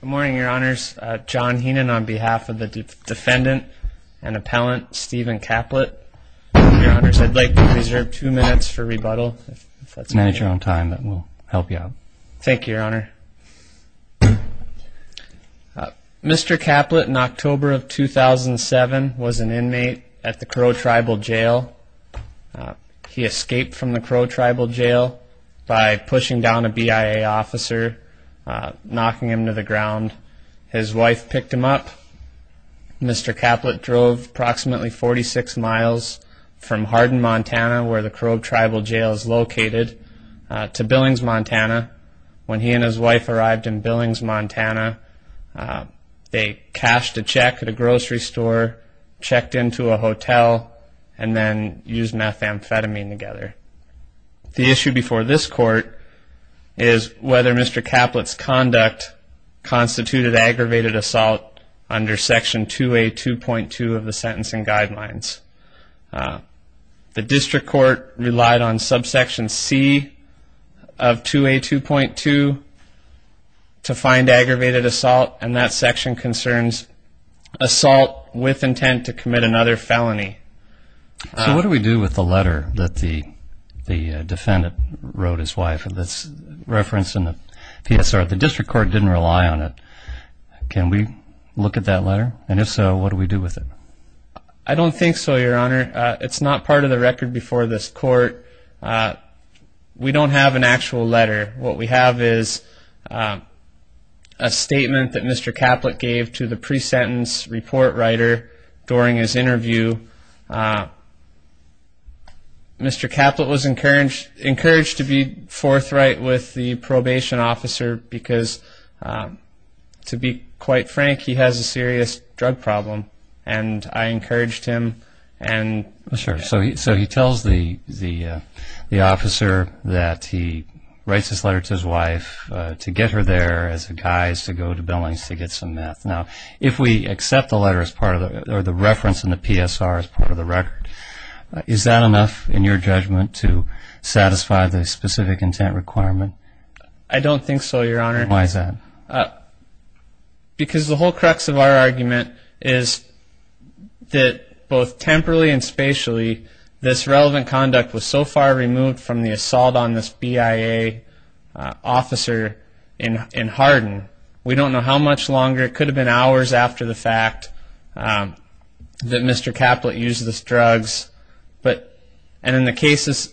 Good morning, your honors. John Heenan on behalf of the defendant and appellant Stephen Caplett. Your honors, I'd like to reserve two minutes for rebuttal. If that's okay. Manage your own time. That will help you out. Thank you, your honor. Mr. Caplett, in October of 2007, was an inmate at the Crow Tribal Jail. He escaped from the Crow Tribal Jail by pushing down a BIA officer, knocking him to the ground. His wife picked him up. Mr. Caplett drove approximately 46 miles from Hardin, Montana, where the Crow Tribal Jail is located, to Billings, Montana. When he and his wife arrived in Billings, Montana, they cashed a check at a grocery store, checked into a hotel, and then used methamphetamine together. The issue before this court is whether Mr. Caplett's conduct constituted aggravated assault under Section 2A.2.2 of the Sentencing Guidelines. The District Court relied on Subsection C of 2A.2.2 to find aggravated assault, and that section concerns assault with intent to commit another felony. So what do we do with the letter that the defendant wrote his wife that's referenced in the PSR? The District Court didn't rely on it. Can we look at that letter? And if so, what do we do with it? I don't think so, your honor. It's not part of the record before this court. We don't have an actual letter. What we have is a statement that Mr. Caplett gave to the pre-sentence report writer during his interview. Mr. Caplett was encouraged to be forthright with the probation officer because, to be quite frank, he has a serious drug problem, and I encouraged him. So he tells the officer that he writes this letter to his wife to get her there as a guise to go to Billings to get some meth. Now, if we accept the letter or the reference in the PSR as part of the record, is that enough, in your judgment, to satisfy the specific intent requirement? I don't think so, your honor. Why is that? Because the whole crux of our argument is that, both temporally and spatially, this relevant conduct was so far removed from the assault on this BIA officer in Hardin. We don't know how much longer. It could have been hours after the fact that Mr. Caplett used these drugs. And in the cases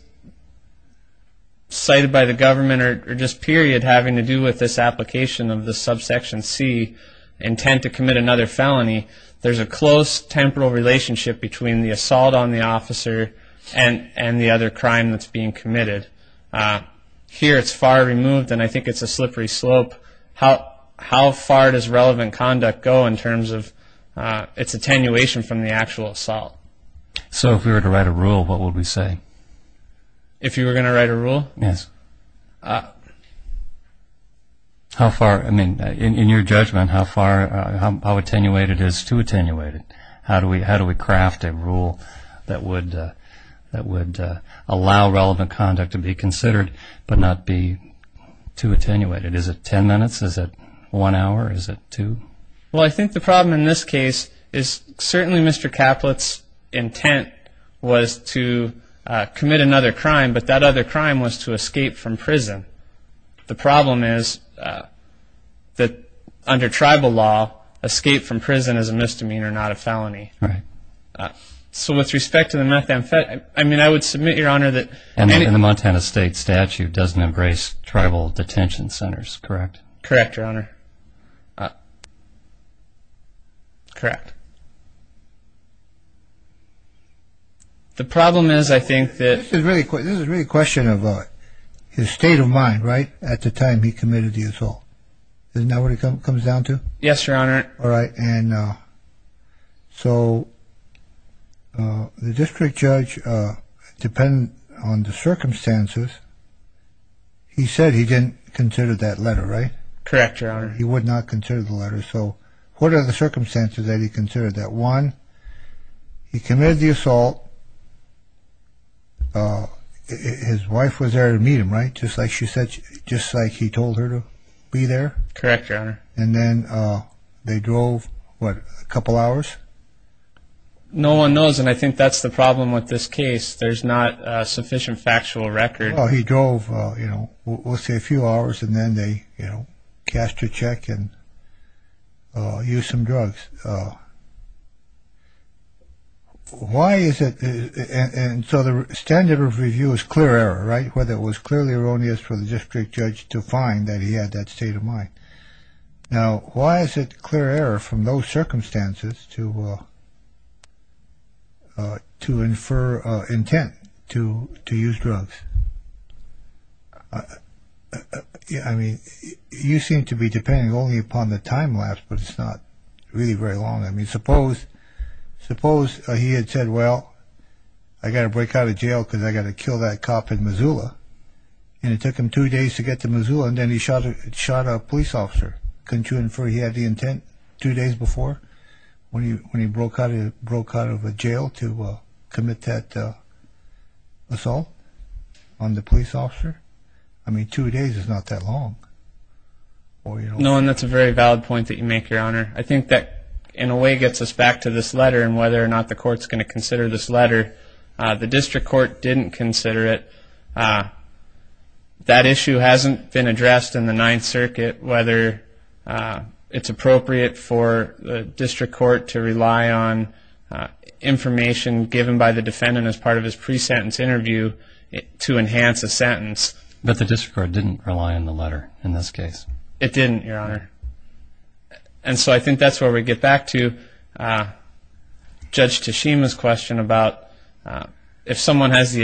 cited by the government or just period having to do with this application of the subsection C, intent to commit another felony, there's a close temporal relationship between the assault on the officer and the other crime that's being committed. Here it's far removed, and I think it's a slippery slope. How far does relevant conduct go in terms of its attenuation from the actual assault? So if we were to write a rule, what would we say? If you were going to write a rule? Yes. How far, I mean, in your judgment, how far, how attenuated is too attenuated? How do we craft a rule that would allow relevant conduct to be considered but not be too attenuated? Is it 10 minutes? Is it one hour? Is it two? Well, I think the problem in this case is certainly Mr. Caplett's intent was to commit another crime, but that other crime was to escape from prison. The problem is that under tribal law, escape from prison is a misdemeanor, not a felony. Right. So with respect to the methamphetamine, I mean, I would submit, Your Honor, that any of the And the Montana State statute doesn't embrace tribal detention centers, correct? Correct, Your Honor. Correct. The problem is, I think that This is really a question of his state of mind, right, at the time he committed the assault. Isn't that what it comes down to? Yes, Your Honor. All right. And so the district judge, depending on the circumstances, he said he didn't consider that letter, right? Correct, Your Honor. He would not consider the letter. So what are the circumstances that he considered that? One, he committed the assault. His wife was there to meet him, right, just like she said, just like he told her to be there? Correct, Your Honor. And then they drove, what, a couple hours? No one knows, and I think that's the problem with this case. There's not a sufficient factual record. He drove, you know, we'll say a few hours and then they, you know, cashed a check and used some drugs. Why is it? And so the standard of review is clear error, right? Whether it was clearly erroneous for the district judge to find that he had that state of mind. Now, why is it clear error from those circumstances to infer intent to use drugs? I mean, you seem to be depending only upon the time lapse, but it's not really very long. I mean, suppose he had said, well, I got to break out of jail because I got to kill that cop in Missoula, and it took him two days to get to Missoula, and then he shot a police officer. Couldn't you infer he had the intent two days before when he broke out of jail to commit that assault on the police officer? I mean, two days is not that long. No, and that's a very valid point that you make, Your Honor. I think that in a way gets us back to this letter and whether or not the court's going to consider this letter. The district court didn't consider it. That issue hasn't been addressed in the Ninth Circuit, whether it's appropriate for the district court to rely on information given by the defendant as part of his pre-sentence interview to enhance a sentence. But the district court didn't rely on the letter in this case. It didn't, Your Honor. And so I think that's where we get back to Judge Tashima's question about if someone has the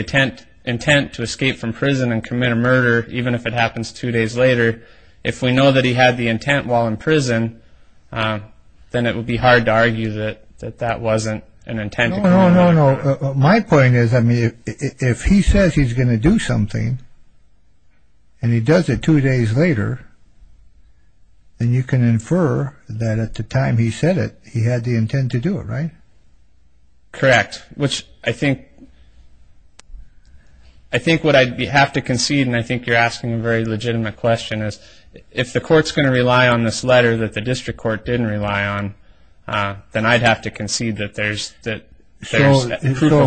intent to escape from prison and commit a murder, even if it happens two days later, if we know that he had the intent while in prison, then it would be hard to argue that that wasn't an intent. No, no, no. My point is, I mean, if he says he's going to do something and he does it two days later, then you can infer that at the time he said it, he had the intent to do it, right? Correct, which I think what I'd have to concede, and I think you're asking a very legitimate question, is if the court's going to rely on this letter that the district court didn't rely on, then I'd have to concede that there's proof of intent. So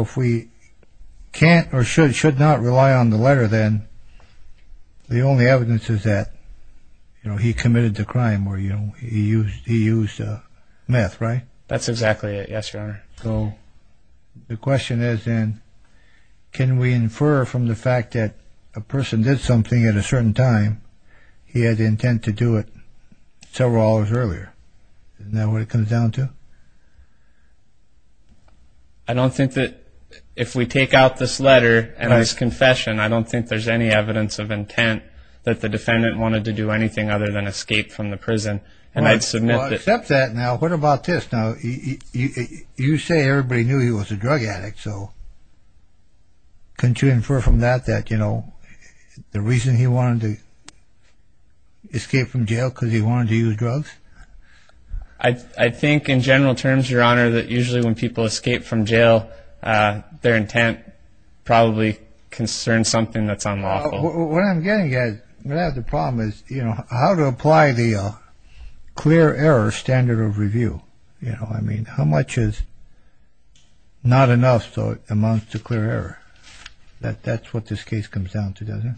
if we can't or should not rely on the letter, then the only evidence is that he committed the crime or he used meth, right? That's exactly it, yes, Your Honor. So the question is then, can we infer from the fact that a person did something at a certain time, and he had the intent to do it several hours earlier? Isn't that what it comes down to? I don't think that if we take out this letter and his confession, I don't think there's any evidence of intent that the defendant wanted to do anything other than escape from the prison, and I'd submit that... Well, except that, now, what about this? Now, you say everybody knew he was a drug addict, so couldn't you infer from that that the reason he wanted to escape from jail was because he wanted to use drugs? I think in general terms, Your Honor, that usually when people escape from jail, their intent probably concerns something that's unlawful. What I'm getting at, the problem is how to apply the clear error standard of review. How much is not enough so it amounts to clear error? That's what this case comes down to, doesn't it?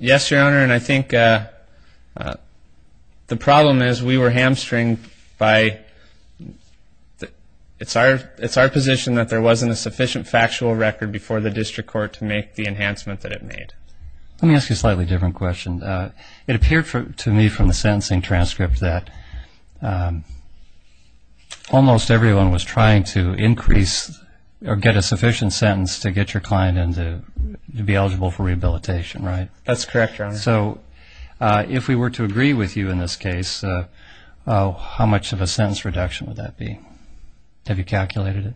Yes, Your Honor, and I think the problem is we were hamstringed by... It's our position that there wasn't a sufficient factual record before the district court to make the enhancement that it made. Let me ask you a slightly different question. It appeared to me from the sentencing transcript that almost everyone was trying to increase or get a sufficient sentence to get your client to be eligible for rehabilitation, right? That's correct, Your Honor. So if we were to agree with you in this case, how much of a sentence reduction would that be? Have you calculated it?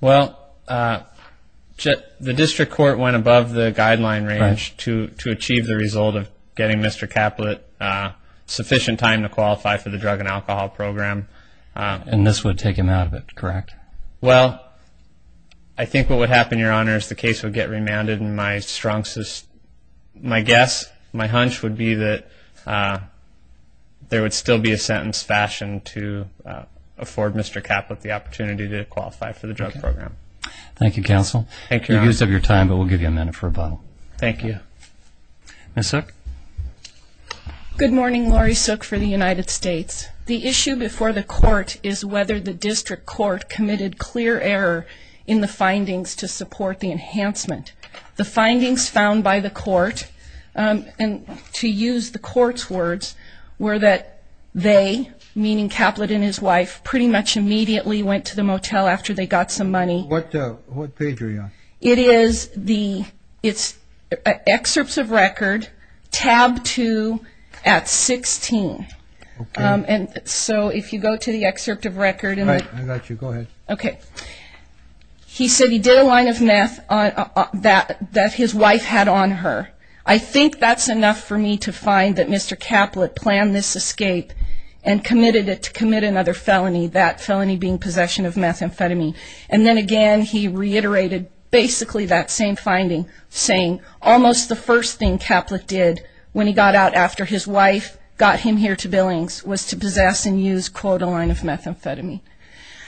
Well, the district court went above the guideline range to achieve the result of getting Mr. Caplet sufficient time to qualify for the drug and alcohol program. And this would take him out of it, correct? Well, I think what would happen, Your Honor, is the case would get remanded, and my guess, my hunch would be that there would still be a sentence fashioned to afford Mr. Caplet the opportunity to qualify for the drug program. Thank you, counsel. Thank you, Your Honor. You used up your time, but we'll give you a minute for rebuttal. Thank you. Ms. Suk. Good morning. Laurie Suk for the United States. The issue before the court is whether the district court committed clear error in the findings to support the enhancement. The findings found by the court, and to use the court's words, were that they, meaning Caplet and his wife, pretty much immediately went to the motel after they got some money. What page are you on? It is the, it's excerpts of record, tab 2 at 16. Okay. And so if you go to the excerpt of record. All right, I got you. Go ahead. Okay. He said he did a line of meth that his wife had on her. I think that's enough for me to find that Mr. Caplet planned this escape and committed it to commit another felony, that felony being possession of methamphetamine. And then again, he reiterated basically that same finding, saying almost the first thing Caplet did when he got out after his wife got him here to Billings was to possess and use, quote, a line of methamphetamine.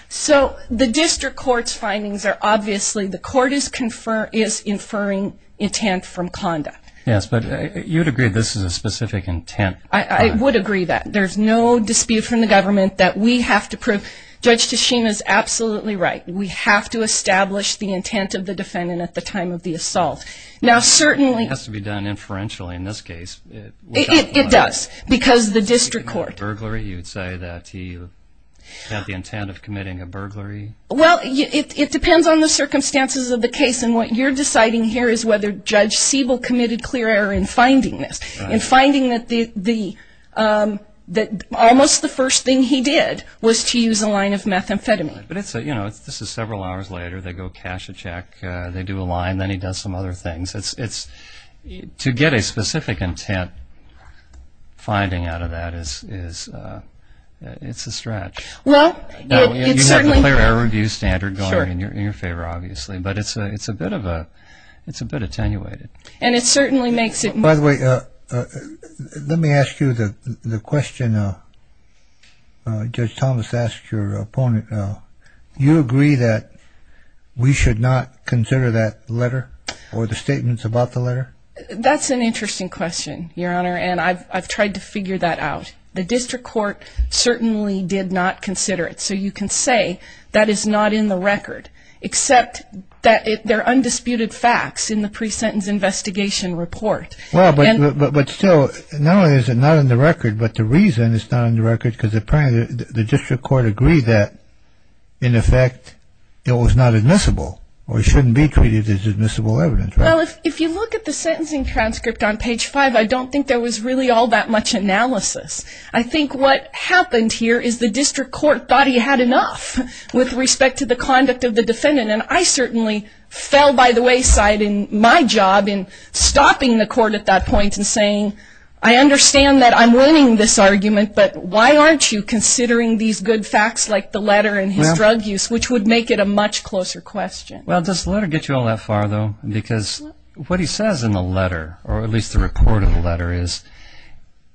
So the district court's findings are obviously the court is inferring intent from conduct. Yes, but you'd agree this is a specific intent. I would agree that. There's no dispute from the government that we have to prove Judge Tichina is absolutely right. We have to establish the intent of the defendant at the time of the assault. Now certainly. It has to be done inferentially in this case. It does, because the district court. You'd say that he had the intent of committing a burglary. Well, it depends on the circumstances of the case, and what you're deciding here is whether Judge Siebel committed clear error in finding this, in finding that almost the first thing he did was to use a line of methamphetamine. But it's, you know, this is several hours later. They go cash a check. They do a line. Then he does some other things. To get a specific intent finding out of that is, it's a stretch. Well, it certainly. You have the clear error review standard going in your favor, obviously. But it's a bit of a, it's a bit attenuated. And it certainly makes it more. By the way, let me ask you the question Judge Thomas asked your opponent. You agree that we should not consider that letter or the statements about the letter? That's an interesting question, Your Honor, and I've tried to figure that out. The district court certainly did not consider it. So you can say that is not in the record, except that they're undisputed facts in the pre-sentence investigation report. Well, but still, not only is it not in the record, but the reason it's not in the record, because apparently the district court agreed that, in effect, it was not admissible or it shouldn't be treated as admissible evidence. Well, if you look at the sentencing transcript on page five, I don't think there was really all that much analysis. I think what happened here is the district court thought he had enough with respect to the conduct of the defendant. And I certainly fell by the wayside in my job in stopping the court at that point and saying, I understand that I'm winning this argument, but why aren't you considering these good facts like the letter and his drug use, which would make it a much closer question. Well, does the letter get you all that far, though? Because what he says in the letter, or at least the report of the letter, is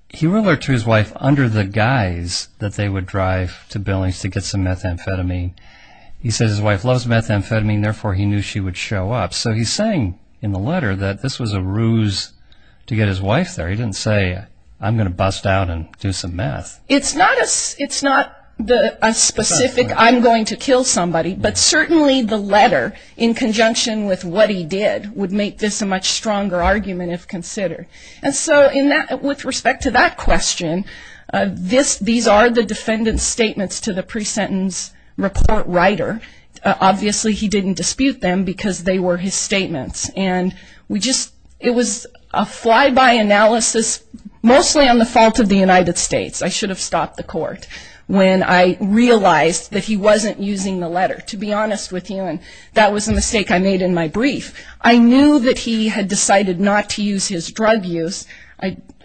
he wrote to his wife under the guise that they would drive to Billings to get some methamphetamine. He says his wife loves methamphetamine, therefore he knew she would show up. So he's saying in the letter that this was a ruse to get his wife there. He didn't say, I'm going to bust out and do some meth. It's not a specific, I'm going to kill somebody, but certainly the letter in conjunction with what he did would make this a much stronger argument if considered. And so with respect to that question, these are the defendant's statements to the pre-sentence report writer. Obviously he didn't dispute them because they were his statements. And we just, it was a fly-by analysis, mostly on the fault of the United States. I should have stopped the court when I realized that he wasn't using the letter, to be honest with you, and that was a mistake I made in my brief. I knew that he had decided not to use his drug use.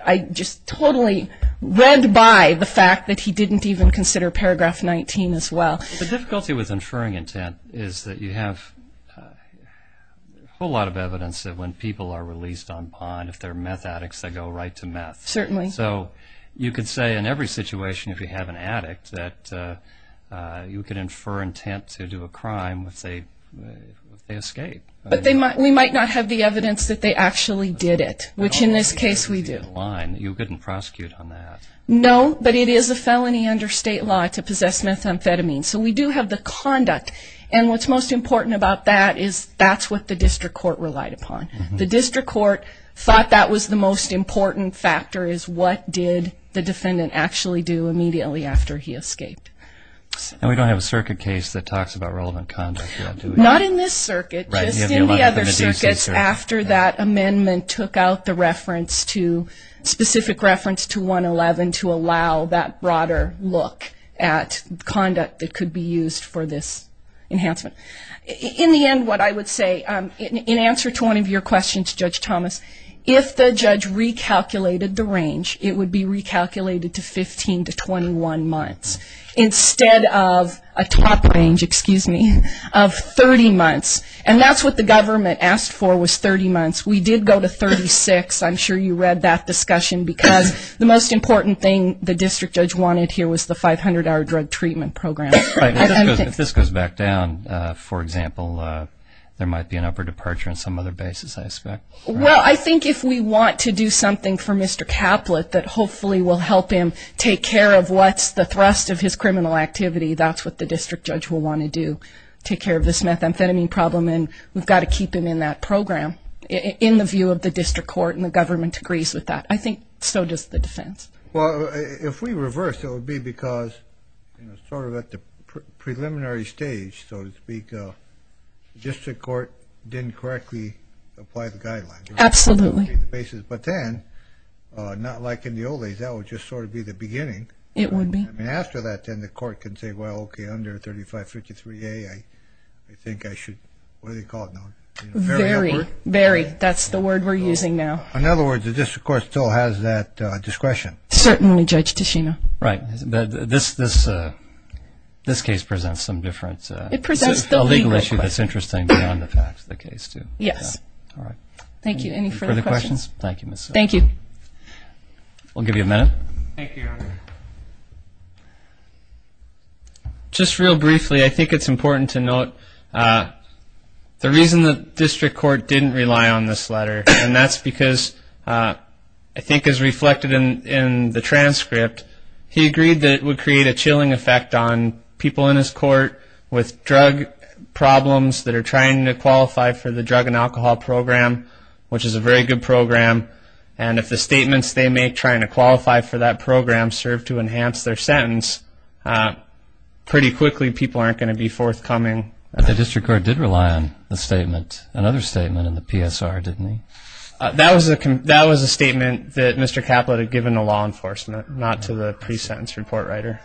I just totally read by the fact that he didn't even consider paragraph 19 as well. The difficulty with inferring intent is that you have a whole lot of evidence that when people are released on bond, if they're meth addicts, they go right to meth. Certainly. So you could say in every situation if you have an addict that you could infer intent to do a crime if they escape. But we might not have the evidence that they actually did it, which in this case we do. You couldn't prosecute on that. No, but it is a felony under state law to possess methamphetamine. So we do have the conduct. And what's most important about that is that's what the district court relied upon. The district court thought that was the most important factor, is what did the defendant actually do immediately after he escaped. And we don't have a circuit case that talks about relevant conduct. Not in this circuit, just in the other circuits after that amendment took out the reference to, to allow that broader look at conduct that could be used for this enhancement. In the end, what I would say, in answer to one of your questions, Judge Thomas, if the judge recalculated the range, it would be recalculated to 15 to 21 months, instead of a top range of 30 months. And that's what the government asked for was 30 months. We did go to 36. I'm sure you read that discussion because the most important thing the district judge wanted here was the 500-hour drug treatment program. If this goes back down, for example, there might be an upper departure on some other basis, I expect. Well, I think if we want to do something for Mr. Caplet that hopefully will help him take care of what's the thrust of his criminal activity, that's what the district judge will want to do, take care of this methamphetamine problem. And we've got to keep him in that program in the view of the district court and the government agrees with that. I think so does the defense. Well, if we reverse, it would be because sort of at the preliminary stage, so to speak, the district court didn't correctly apply the guidelines. Absolutely. But then, not like in the old days, that would just sort of be the beginning. It would be. I mean, after that, then the court can say, well, okay, under 3553A, I think I should, what do they call it now? Very, very. That's the word we're using now. In other words, the district court still has that discretion. Certainly, Judge Tichina. Right. This case presents some difference. It presents the legal question. A legal issue that's interesting beyond the facts, the case, too. Yes. All right. Any further questions? Thank you, Ms. Sullivan. Thank you. We'll give you a minute. Thank you, Your Honor. Just real briefly, I think it's important to note the reason the district court didn't rely on this letter, and that's because I think as reflected in the transcript, he agreed that it would create a chilling effect on people in his court with drug problems that are trying to qualify for the drug and alcohol program, which is a very good program, and if the statements they make trying to qualify for that program serve to enhance their sentence, pretty quickly people aren't going to be forthcoming. But the district court did rely on the statement, another statement in the PSR, didn't he? That was a statement that Mr. Caplet had given to law enforcement, not to the pre-sentence report writer.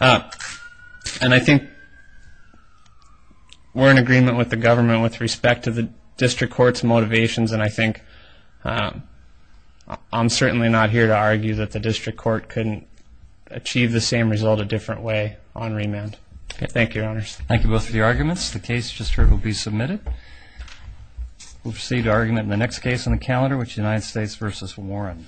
And I think we're in agreement with the government with respect to the district court's motivations, and I think I'm certainly not here to argue that the district court couldn't achieve the same result a different way on remand. Thank you, Your Honors. Thank you both for your arguments. The case just heard will be submitted. We'll proceed to argument in the next case on the calendar, which is United States v. Warren.